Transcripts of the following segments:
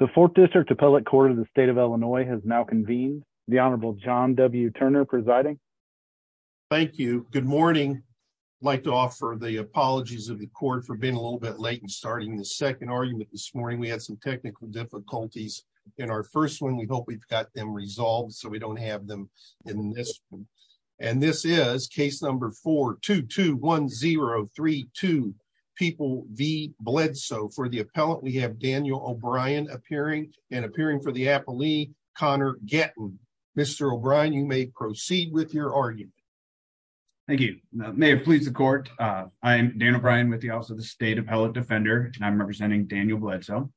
The Fourth District Appellate Court of the State of Illinois has now convened. The Honorable John W. Turner presiding. Thank you. Good morning. I'd like to offer the apologies of the court for being a little bit late in starting the second argument this morning. We had some technical difficulties in our first one. We hope we've got them resolved so we don't have them in this one. And this is number 4221032 People v. Bledsoe. For the appellant, we have Daniel O'Brien appearing and appearing for the appellee, Connor Gettin. Mr. O'Brien, you may proceed with your argument. Thank you. May it please the court, I am Daniel O'Brien with the Office of the State Appellate Defender and I'm representing Daniel Bledsoe.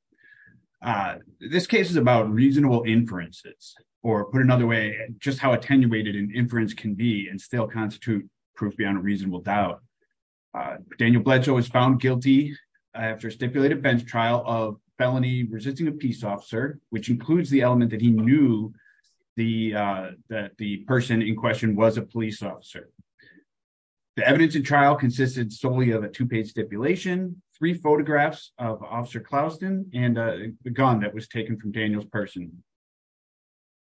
This case is about reasonable inferences, or put another way, just how attenuated an inference can be and still constitute proof beyond a reasonable doubt. Daniel Bledsoe was found guilty after a stipulated bench trial of felony resisting a peace officer, which includes the element that he knew that the person in question was a police officer. The evidence in trial consisted solely of a two-page stipulation, three photographs of Officer Clouston, and a gun that was taken from Daniel's person.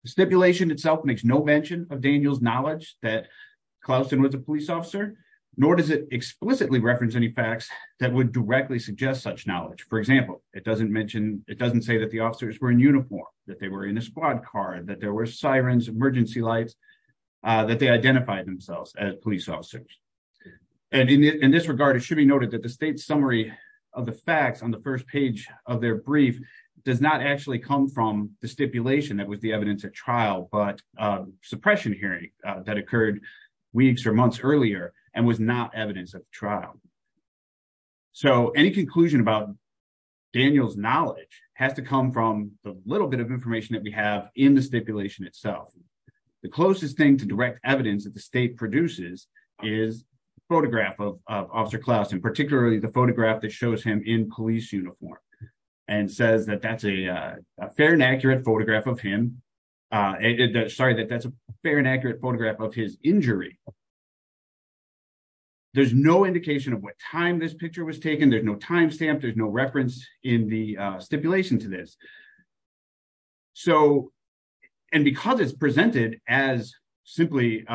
The stipulation itself makes no mention of Daniel's knowledge that Clouston was a police officer, nor does it explicitly reference any facts that would directly suggest such knowledge. For example, it doesn't mention, it doesn't say that the officers were in uniform, that they were in a squad car, that there were sirens, emergency lights, that they identified themselves as police officers. And in this regard, it should be noted that the state's summary of the facts on the first page of their brief does not actually come from the stipulation that was the evidence at trial, but suppression hearing that occurred weeks or months earlier and was not evidence of trial. So any conclusion about Daniel's knowledge has to come from the little bit of information that we have in the stipulation itself. The closest thing to direct evidence that the state produces is a photograph of Officer Clouston, particularly the photograph that shows him in police uniform and says that that's a fair and accurate photograph of his injury. There's no indication of what time this picture was taken, there's no timestamp, there's no reference in the stipulation to this. So, and because it's presented as simply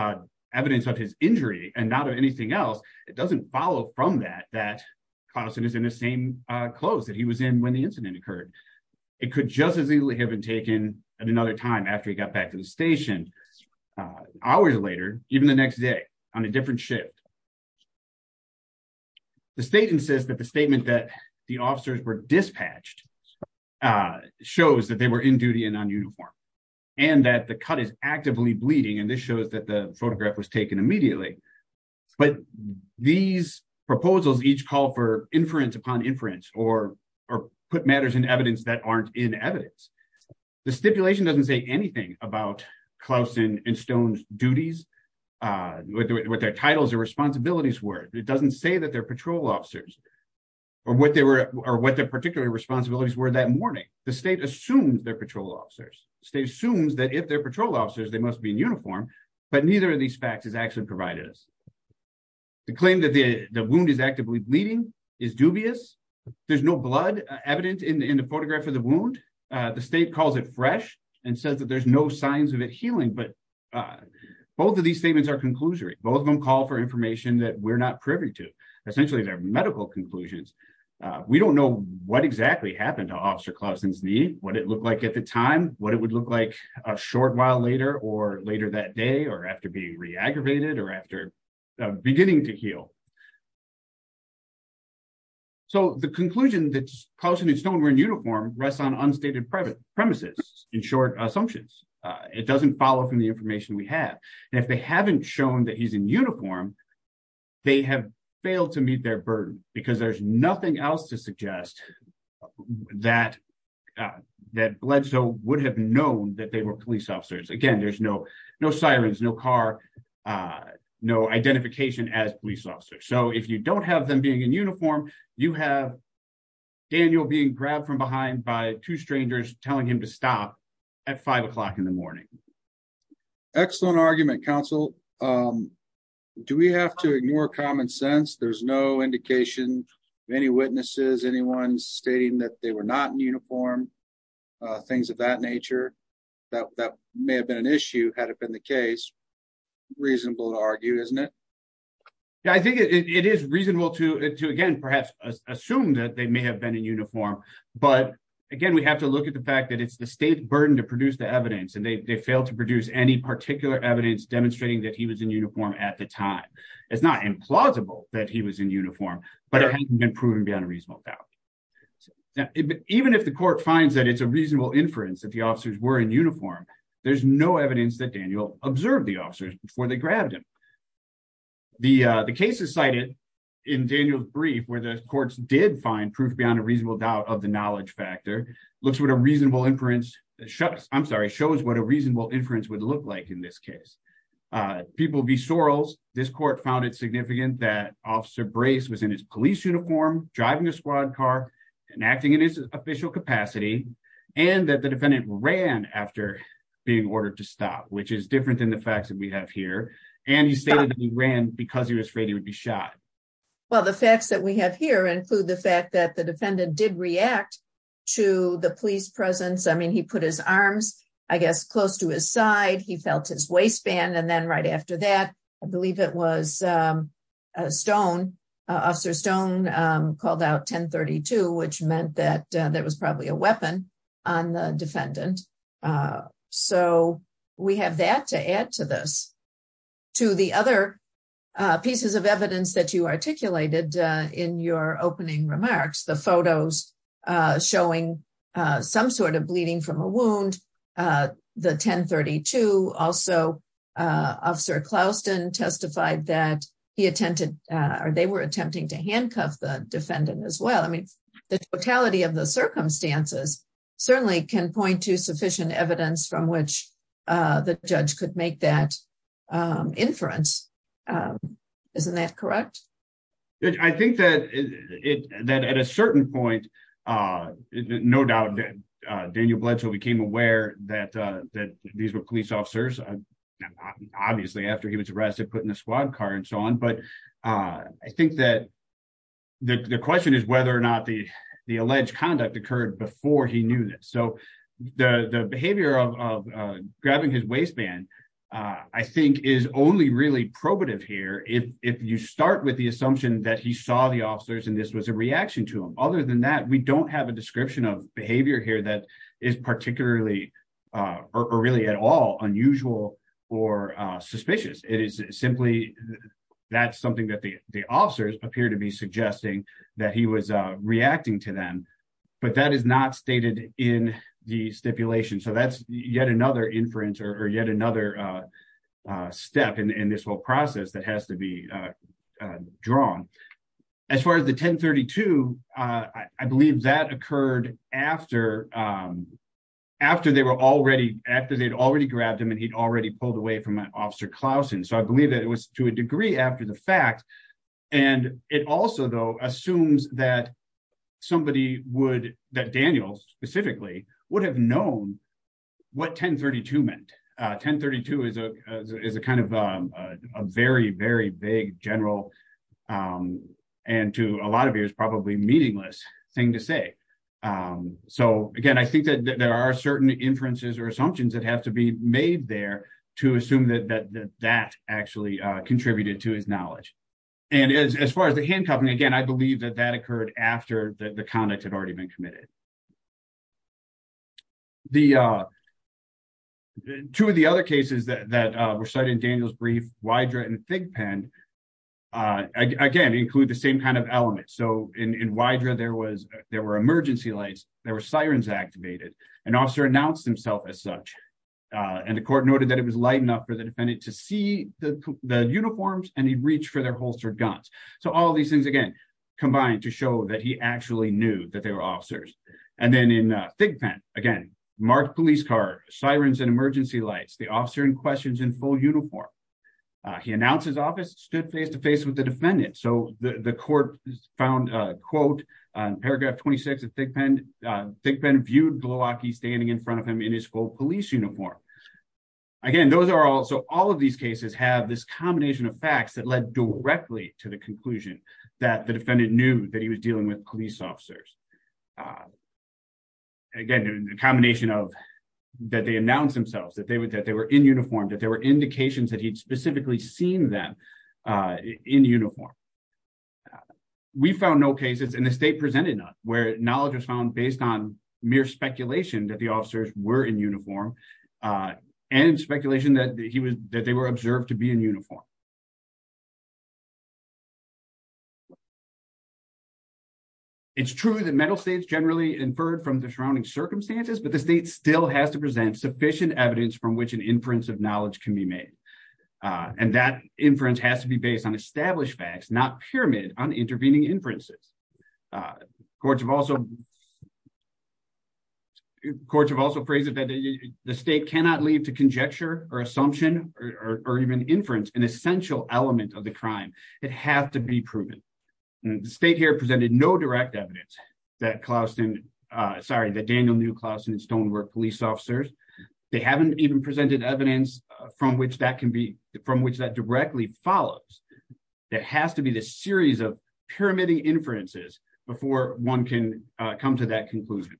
evidence of his injury and not of anything else, it doesn't follow from that that Clouston is in the same clothes that he was in when the incident occurred. It could just as easily have been taken at another time after he got back to the station, hours later, even the next day, on a different shift. The state insists that the statement that the officers were dispatched shows that they were in duty and on uniform, and that the cut is actively bleeding and this these proposals each call for inference upon inference or put matters in evidence that aren't in evidence. The stipulation doesn't say anything about Clouston and Stone's duties, what their titles or responsibilities were. It doesn't say that they're patrol officers or what their particular responsibilities were that morning. The state assumes they're patrol officers. The state assumes that if they're patrol officers, they must be in uniform, but neither of these facts has actually provided us. The claim that the wound is actively bleeding is dubious. There's no blood evident in the photograph of the wound. The state calls it fresh and says that there's no signs of it healing, but both of these statements are conclusory. Both of them call for information that we're not privy to. Essentially, they're medical conclusions. We don't know what exactly happened to Officer Clouston's knee, what it looked like a short while later, or later that day, or after being re-aggravated, or after beginning to heal. The conclusion that Clouston and Stone were in uniform rests on unstated premises, in short, assumptions. It doesn't follow from the information we have. If they haven't shown that he's in uniform, they have failed to meet their burden because there's nothing else to suggest that Bledsoe would have known that they were police officers. Again, there's no sirens, no car, no identification as police officers. If you don't have them being in uniform, you have Daniel being grabbed from behind by two strangers telling him to stop at five o'clock in the morning. Excellent argument, counsel. Do we have to ignore common sense? There's no indication of any witnesses, anyone stating that they were not in uniform, things of that nature. That may have been an issue had it been the case. Reasonable to argue, isn't it? I think it is reasonable to, again, perhaps assume that they may have been in uniform. Again, we have to look at the fact that it's the state's burden to produce the evidence. They failed to produce any particular evidence demonstrating that he was in uniform at the time. It's not implausible that he was in uniform, but it hasn't been proven beyond a reasonable doubt. Even if the court finds that it's a reasonable inference that the officers were in uniform, there's no evidence that Daniel observed the officers before they grabbed him. The case is cited in Daniel's brief where the courts did find proof beyond a reasonable doubt of the knowledge factor, looks what a reasonable inference, I'm sorry, shows what a reasonable inference would look like in this case. People be sorrels. This court found it significant that Officer Brace was in his police uniform, driving a squad car and acting in his official capacity, and that the defendant ran after being ordered to stop, which is different than the facts that we have here. And he stated that he ran because he was afraid he would be shot. Well, the facts that we have here include the fact that the defendant did react to the police presence. I mean, he put his arms, I guess, close to his side, he felt his waistband, and then right after that, I believe it was Stone, Officer Stone called out 1032, which meant that there was probably a weapon on the defendant. So we have that to add to this. To the other pieces of evidence that you articulated in your opening remarks, the photos showing some sort of bleeding from a wound, the 1032, also Officer Klausten testified that he attempted, or they were attempting to handcuff the defendant as well. I mean, the totality of the circumstances certainly can point to sufficient evidence from which the judge could make that inference. Isn't that correct? I think that at a certain point, no doubt, Daniel Bledsoe became aware that these were police officers, obviously, after he was arrested, put in a squad car and so on. But I think that the question is whether or not the alleged conduct occurred before he knew this. So the behavior of grabbing his waistband, I think is only really probative here. If you start with the assumption that he saw the officers, and this was a reaction to him. Other than that, we don't have a description of behavior here that is particularly, or really at all unusual, or suspicious. It is simply, that's something that the officers appear to be suggesting that he was reacting to them. But that is not stated in the stipulation. So that's yet another inference, or yet another step in this whole process that has to be drawn. As far as the 1032, I believe that occurred after they'd already grabbed him, and he'd already pulled away from Officer Klausten. So I believe that it was to a degree after the fact. And it also, though, assumes that somebody would, that Daniel specifically, would have known what 1032 meant. 1032 is a kind of a very, very vague, general, and to a lot of viewers, probably meaningless thing to say. So again, I think that there are certain inferences or assumptions that have to be made there to assume that that actually contributed to his knowledge. And as far as the handcuffing, again, I believe that that occurred after the conduct had already been committed. Two of the other cases that were cited in Daniel's brief, Wydra and Thigpen, again, include the same kind of element. So in Wydra, there were emergency lights, there were sirens activated, an officer announced himself as such, and the court noted that it was light enough for the defendant to see the uniforms and he'd reach for their holstered guns. So all these things, again, combined to show that he actually knew that they were officers. And then in Thigpen, again, marked police car, sirens and emergency lights, the officer in question's in full uniform. He announced his office, stood face to face with the defendant. So the court found, quote, paragraph 26 of Thigpen, Thigpen viewed standing in front of him in his, quote, police uniform. Again, those are all, so all of these cases have this combination of facts that led directly to the conclusion that the defendant knew that he was dealing with police officers. Again, a combination of that they announced themselves, that they were in uniform, that there were indications that he'd specifically seen them in uniform. We found no cases, and the state presented none, where knowledge was found based on mere speculation that the officers were in uniform and speculation that he was, that they were observed to be in uniform. It's true that mental states generally inferred from the surrounding circumstances, but the state still has to present sufficient evidence from which an inference of knowledge can be made. And that inference has to be based on established facts, not pyramid on intervening inferences. Courts have also, courts have also phrased it that the state cannot leave to conjecture or assumption or even inference an essential element of the crime. It has to be proven. The state here presented no direct evidence that Klausten, sorry, that Daniel knew Klausten's don't work police officers. They haven't even presented evidence from which that directly follows. There has to be this series of pyramiding inferences before one can come to that conclusion.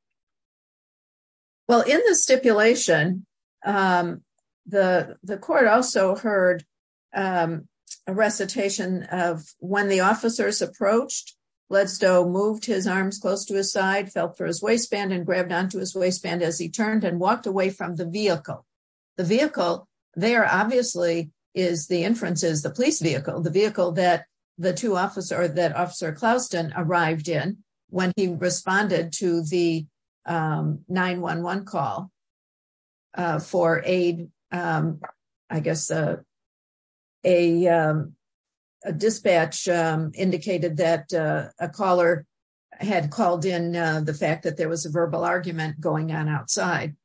Well, in the stipulation, the court also heard a recitation of when the officers approached, Ledstow moved his arms close to his side, felt for his waistband and grabbed onto his the police vehicle, the vehicle that the two officer, that officer Klausten arrived in when he responded to the 911 call for aid. I guess a dispatch indicated that a caller had called in the fact that there was a verbal argument going on outside.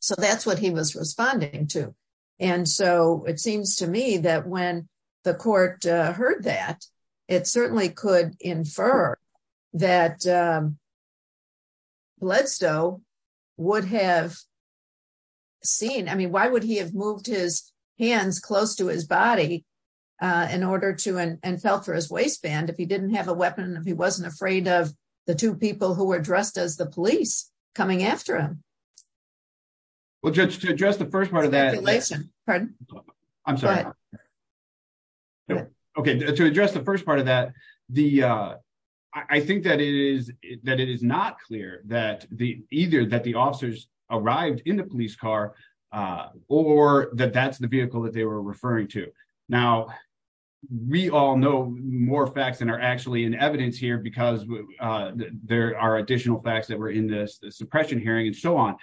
So that's what he was responding to. And so it seems to me that when the court heard that, it certainly could infer that Ledstow would have seen, I mean, why would he have moved his hands close to his body in order to, and felt for his waistband if he didn't have a weapon, if he wasn't afraid of the two people who were dressed as the police coming after him. Well, judge, to address the first part of that, I'm sorry. Okay. To address the first part of that, the, uh, I think that it is, that it is not clear that the, either that the officers arrived in the police car, uh, or that that's the vehicle that they were referring to. Now we all know more facts than are actually in evidence here because, uh, there are additional facts that were in this suppression hearing and so on.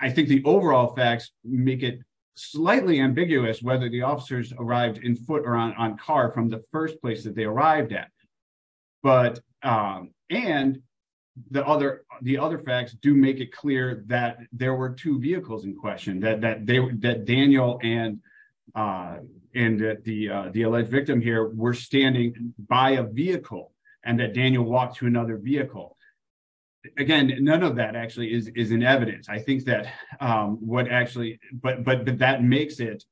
I think the overall facts make it slightly ambiguous, whether the officers arrived in foot or on car from the first place that they arrived at. But, um, and the other, the other facts do make it clear that there were two vehicles in question that, that they, that Daniel and, uh, and the, uh, the alleged victim here were standing by a vehicle and that Daniel walked to another vehicle. Again, none of that actually is, is in evidence. I think that, um, what actually, but, but that makes it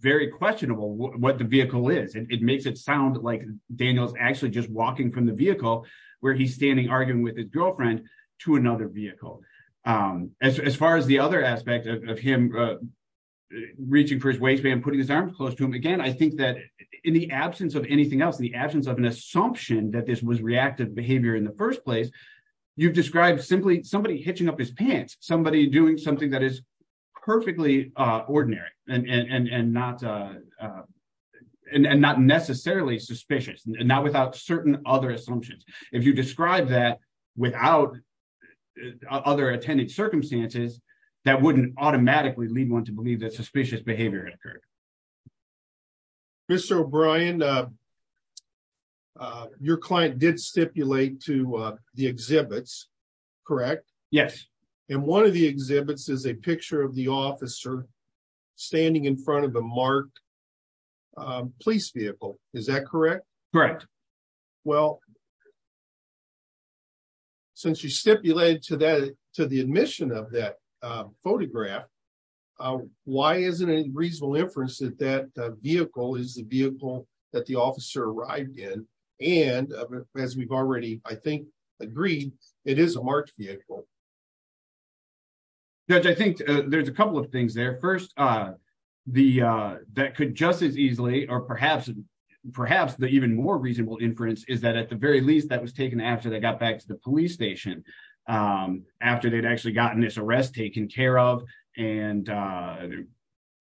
very questionable what the vehicle is. It makes it sound like Daniel's actually just walking from the vehicle where he's standing arguing with his girlfriend to another vehicle. Um, as, as far as the other aspect of him, uh, reaching for his waistband and putting his arms close to him. Again, I think that in the absence of anything else, in the absence of an assumption that this was reactive behavior in the first place, you've described simply somebody hitching up his pants, somebody doing something that is perfectly ordinary and, and, and, and not, uh, uh, and not necessarily suspicious and not without certain other assumptions. If you describe that without other attended circumstances, that wouldn't automatically lead one to believe that suspicious behavior occurred. Mr. O'Brien, uh, uh, your client did stipulate to, uh, the exhibits, correct? Yes. And one of the exhibits is a picture of the officer standing in front of the marked, um, police vehicle, is that correct? Correct. Well, since you stipulated to that, to the admission of that, uh, photograph, uh, why is it a reasonable inference that that vehicle is the vehicle that the officer arrived in? And as we've already, I think, agreed, it is a marked vehicle. Judge, I think there's a couple of things there. First, uh, the, uh, that could just as easily, or perhaps, perhaps the even more reasonable inference is that at the very least that was taken care of and, uh,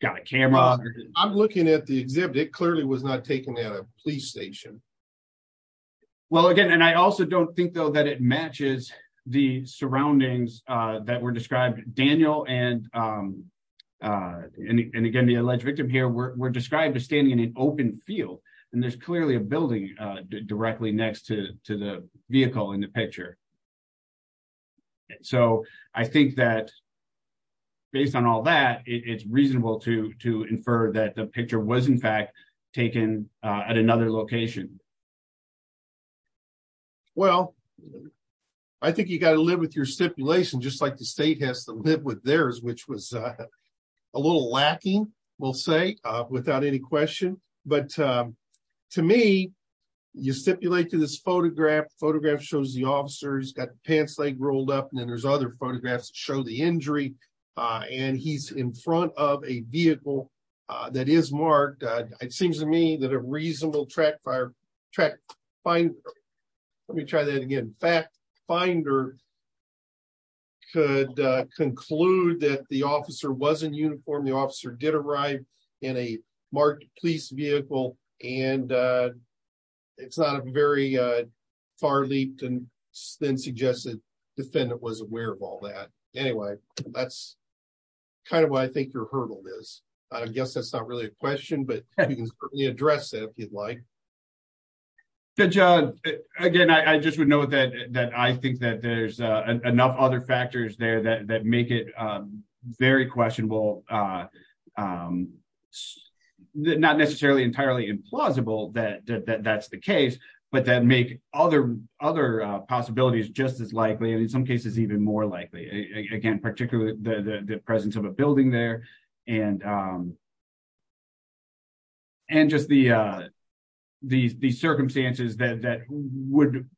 got a camera. I'm looking at the exhibit. It clearly was not taken at a police station. Well, again, and I also don't think though that it matches the surroundings, uh, that were described Daniel and, um, uh, and, and again, the alleged victim here were described as standing in an open field and there's clearly a building, uh, directly next to, to the vehicle in the picture. So I think that based on all that it's reasonable to, to infer that the picture was in fact taken, uh, at another location. Well, I think you got to live with your stipulation, just like the state has to live with theirs, which was a little lacking, we'll say, uh, without any question. But, um, to me, you stipulate to this photograph, photograph shows the officers got the pants, leg rolled up and then there's other photographs to show the injury. Uh, and he's in front of a vehicle, uh, that is marked. Uh, it seems to me that a reasonable track fire track fine. Let me try that again. In fact, finder could, uh, conclude that the officer wasn't in uniform. The officer did arrive in a marked police vehicle and, uh, it's not a very, uh, far leaped and then suggested defendant was aware of all that. Anyway, that's kind of what I think your hurdle is. I guess that's not really a question, but you can address it if you'd like. Good job. Again, I just would know that, that I think that there's enough other factors there that make it, um, very questionable. Uh, um, not necessarily entirely implausible that, that that's the case, but that make other, other, uh, possibilities just as likely. And in some cases, even more likely again, particularly the presence of a building there and, um, and just the, uh, the, the circumstances that, that would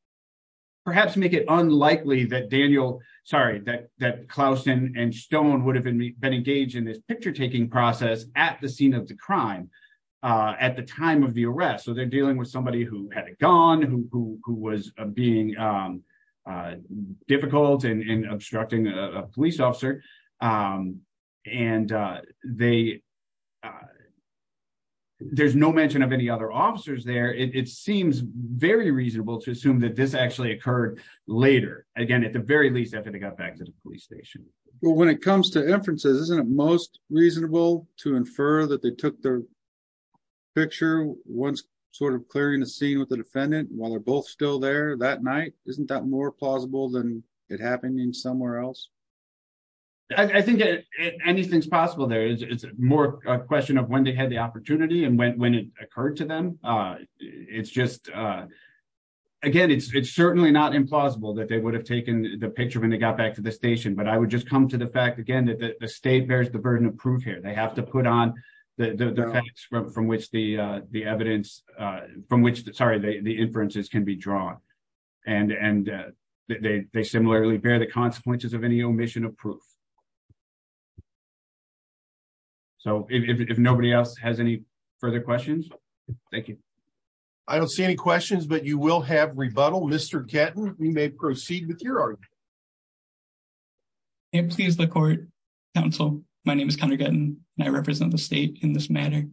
perhaps make it unlikely that Daniel, sorry, that, that Klausen and stone would have been engaged in this picture-taking process at the scene of the crime, uh, at the time of the arrest. So they're dealing with somebody who had a gun, who, who, who was being, um, uh, difficult and obstructing a police officer. Um, and, uh, they, uh, there's no mention of any other officers there. It seems very reasonable to assume that this actually occurred later again, at the very least after they got back to the police station. Well, when it comes to inferences, isn't it most reasonable to infer that they took their picture once sort of clearing the scene with the defendant while they're both still there that night, isn't that more plausible than it happened in somewhere else? I think anything's possible. There is more a question of when they had the opportunity and when it occurred to them, uh, it's just, uh, again, it's certainly not implausible that they would have taken the picture when they got back to the station, but I would just come to the fact again, that the state bears the burden of proof here. They have to put on the facts from which the, uh, the evidence, uh, from which the, sorry, the inferences can be drawn and, and, uh, they, they similarly bear the consequences of any omission of proof. So if, if, if nobody else has any further questions, thank you. I don't see any questions, but you will have rebuttal. Mr. Gatton, we may proceed with your argument. Hey, please, the court, counsel, my name is Connor Gatton and I represent the state in this matter.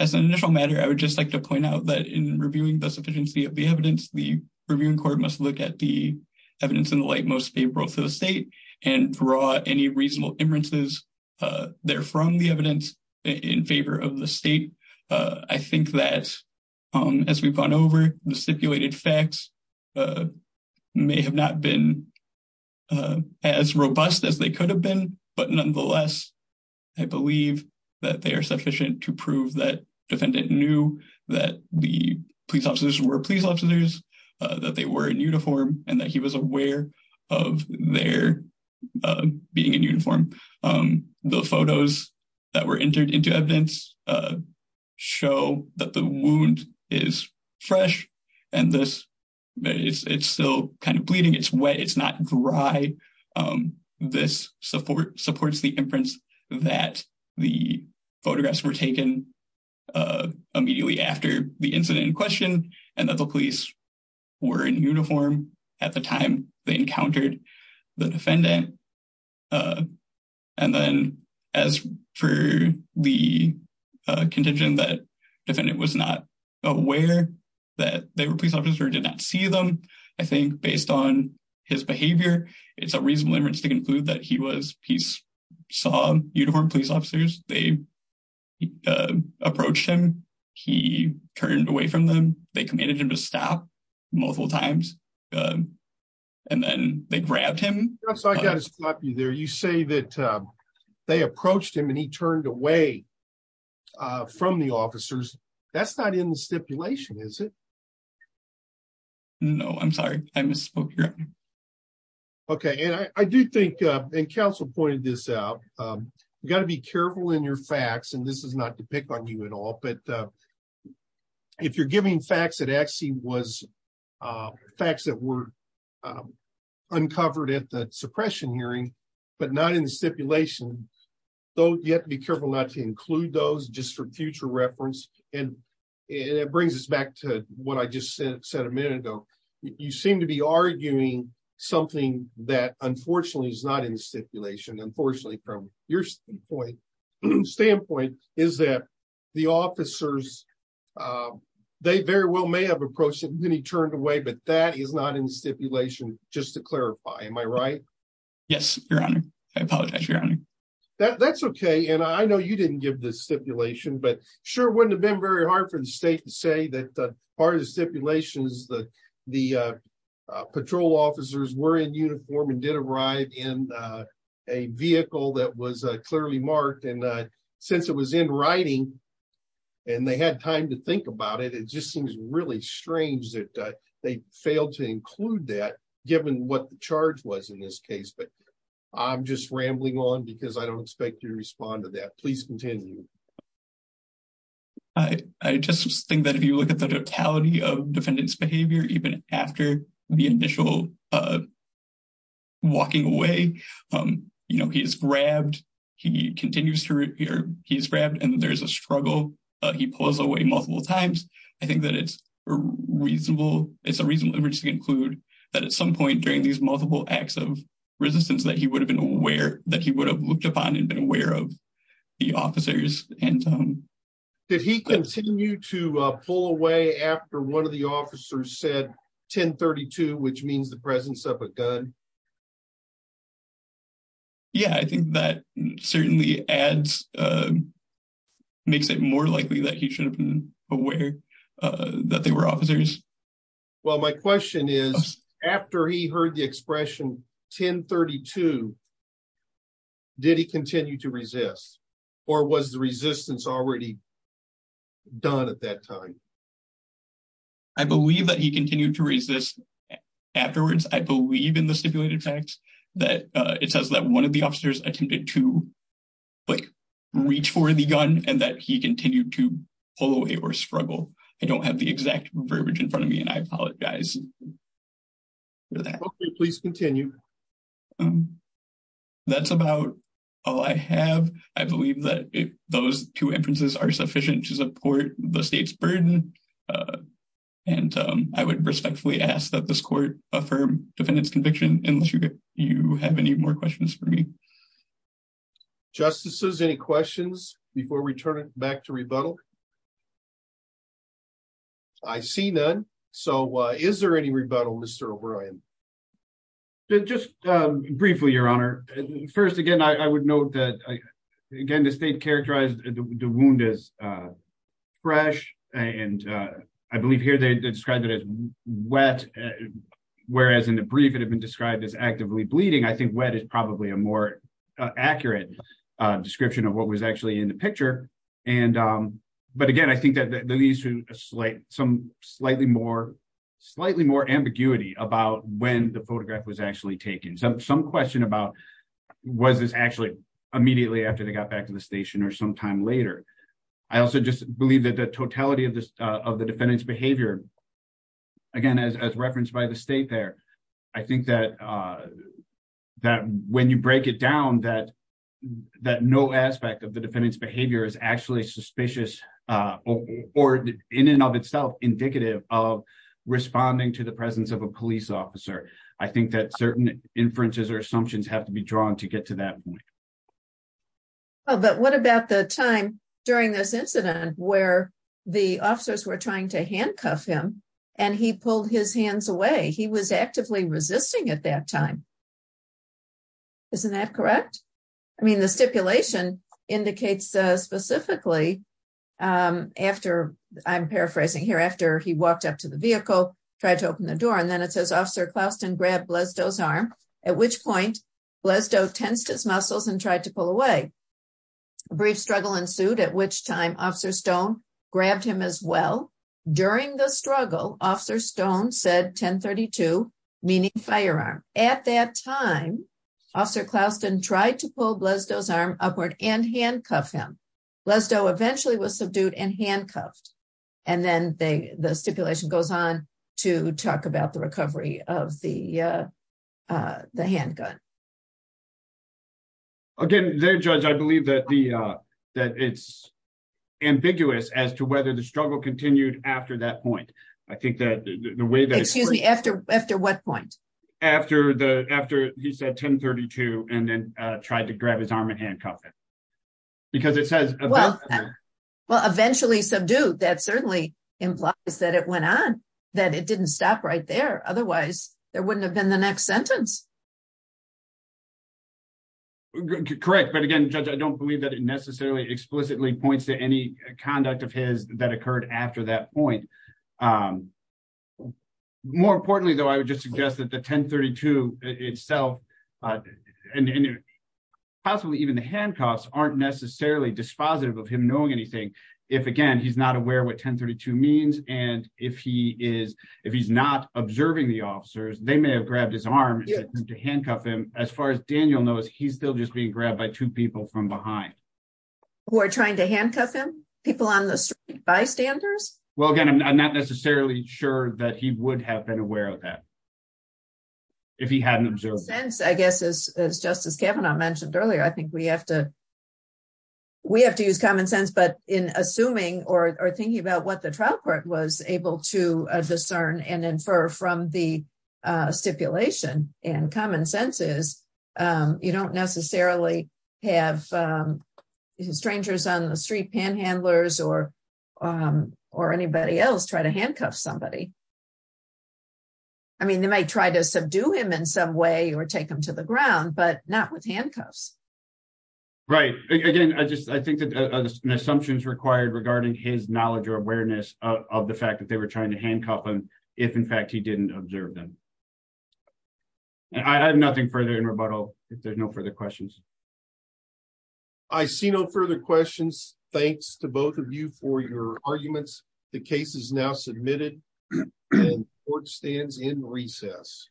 As an initial matter, I would just like to point out that in reviewing the sufficiency of the evidence, the reviewing court must look at the evidence in the light most favorable to the state and draw any reasonable inferences, uh, there from the evidence in favor of the state. Uh, I think that, um, as we've gone over the stipulated facts, uh, may have not been, uh, as robust as they could have been, but nonetheless, I believe that they are sufficient to prove that defendant knew that the police officers were police officers, uh, that they were in uniform and that he was aware of their, uh, being in uniform. Um, the photos that were entered into evidence, uh, show that the wound is fresh and this, but it's, it's still kind of bleeding. It's wet. It's not dry. Um, this support supports the inference that the photographs were taken, uh, immediately after the incident in question and that the were in uniform at the time they encountered the defendant. Uh, and then as for the, uh, contingent that defendant was not aware that they were police officers or did not see them, I think based on his behavior, it's a reasonable inference to conclude that he was, he saw uniformed police officers. They, uh, approached him. He turned away from them. They commanded him to stop multiple times. Um, and then they grabbed him. So I got to stop you there. You say that, um, they approached him and he turned away, uh, from the officers. That's not in the stipulation, is it? No, I'm sorry. I misspoke here. Okay. And I do think, uh, and council pointed this out. Um, you got to be careful in your facts and this is not to pick on you at all, but, uh, if you're giving facts that actually was, uh, facts that were, um, uncovered at the suppression hearing, but not in the stipulation, though, you have to be careful not to include those just for future reference. And it brings us back to what I just said, said a minute ago, you seem to be arguing something that unfortunately is not in the stipulation. Unfortunately, from your standpoint is that the officers, um, they very well may have approached him and he turned away, but that is not in the stipulation. Just to clarify. Am I right? Yes, your honor. I apologize. That's okay. And I know you didn't give this stipulation, but sure. Wouldn't have been very hard for the state to say that part of the stipulations that the, uh, uh, patrol officers were in uniform and did arrive in, uh, a vehicle that was clearly marked. And, uh, since it was in writing and they had time to think about it, it just seems really strange that they failed to include that given what the charge was in this case. But I'm just rambling on because I don't expect you to respond to that. Please continue. I, I just think that if you look at the totality of defendant's behavior, even after the initial, uh, walking away, um, you know, he's grabbed, he continues to repeat, he's grabbed and there's a struggle. Uh, he pulls away multiple times. I think that it's reasonable. It's a reason to include that at some point during these multiple acts of resistance that he would have been aware that he would have looked upon and been aware of the officers. And, um, did he continue to pull away after one of the officers said 10 32, which means the presence of a gun? Yeah, I think that certainly adds, um, makes it more likely that he should have been aware, uh, that they were officers. Well, my question is after he heard the expression 10 32, did he continue to resist or was the resistance already done at that time? I believe that he continued to resist afterwards. I believe in the stipulated facts that, uh, it says that one of the officers attempted to like reach for the gun and that he continued to pull away or struggle. I don't have the exact verbiage in front of me and I apologize for that. Okay. Please continue. Um, that's about all I have. I believe that those two inferences are sufficient to support the state's burden. Uh, and, um, I would respectfully ask that this court affirm defendants conviction unless you, you have any more questions for me. Justices, any questions before we turn it back to rebuttal? I see none. So, uh, is there any rebuttal Mr. O'Brien? Just, um, briefly, your honor. First again, I would note that again, the state characterized the wound is, uh, fresh and, uh, I believe here they described it as wet. Whereas in the brief, described as actively bleeding. I think wet is probably a more accurate description of what was actually in the picture. And, um, but again, I think that that leads to a slight, some slightly more, slightly more ambiguity about when the photograph was actually taken. So some question about was this actually immediately after they got back to the station or sometime later, I also just believe that the totality of this, uh, of the defendant's behavior, again, as, as referenced by the state there, I think that, uh, that when you break it down, that, that no aspect of the defendant's behavior is actually suspicious, uh, or in and of itself, indicative of responding to the presence of a police officer. I think that certain inferences or assumptions have to be drawn to get to that point. Oh, but what about the time during this and he pulled his hands away. He was actively resisting at that time. Isn't that correct? I mean, the stipulation indicates, uh, specifically, um, after I'm paraphrasing here after he walked up to the vehicle, tried to open the door and then it says officer Klauston grabbed Blesdo's arm, at which point Blesdo tensed his muscles and tried to pull away. A brief struggle ensued at which time officer Stone grabbed him as well during the struggle. Officer Stone said 1032 meaning firearm. At that time, officer Klauston tried to pull Blesdo's arm upward and handcuff him. Blesdo eventually was subdued and handcuffed. And then they, the stipulation goes on to talk about the recovery of the, uh, uh, the handgun. Again, there judge, I believe that the, uh, that it's ambiguous as to whether the struggle continued after that point. I think that the way that, excuse me, after, after what point? After the, after he said 1032 and then, uh, tried to grab his arm and handcuff it because it says, well, eventually subdued. That certainly implies that it went on, that it didn't stop right there. Otherwise there wouldn't have been the next sentence. Correct. But again, judge, I don't believe that it necessarily explicitly points to any conduct of his that occurred after that point. Um, more importantly though, I would just suggest that the 1032 itself, uh, and possibly even the handcuffs aren't necessarily dispositive of him knowing anything. If again, he's not aware what 1032 means. And if he is, if he's not observing the officers, they may have grabbed his arm to handcuff him. As far as Daniel knows, he's still being grabbed by two people from behind. Who are trying to handcuff him? People on the street? Bystanders? Well, again, I'm not necessarily sure that he would have been aware of that if he hadn't observed. I guess as, as justice Kavanaugh mentioned earlier, I think we have to, we have to use common sense, but in assuming or thinking about what the trial court was able to have, um, strangers on the street, panhandlers or, um, or anybody else try to handcuff somebody. I mean, they might try to subdue him in some way or take them to the ground, but not with handcuffs. Right. Again, I just, I think that an assumption is required regarding his knowledge or awareness of the fact that they were trying to handcuff him. If in fact he didn't observe them. And I have nothing further in rebuttal. If there's no further questions. I see no further questions. Thanks to both of you for your arguments. The case is now submitted and court stands in recess.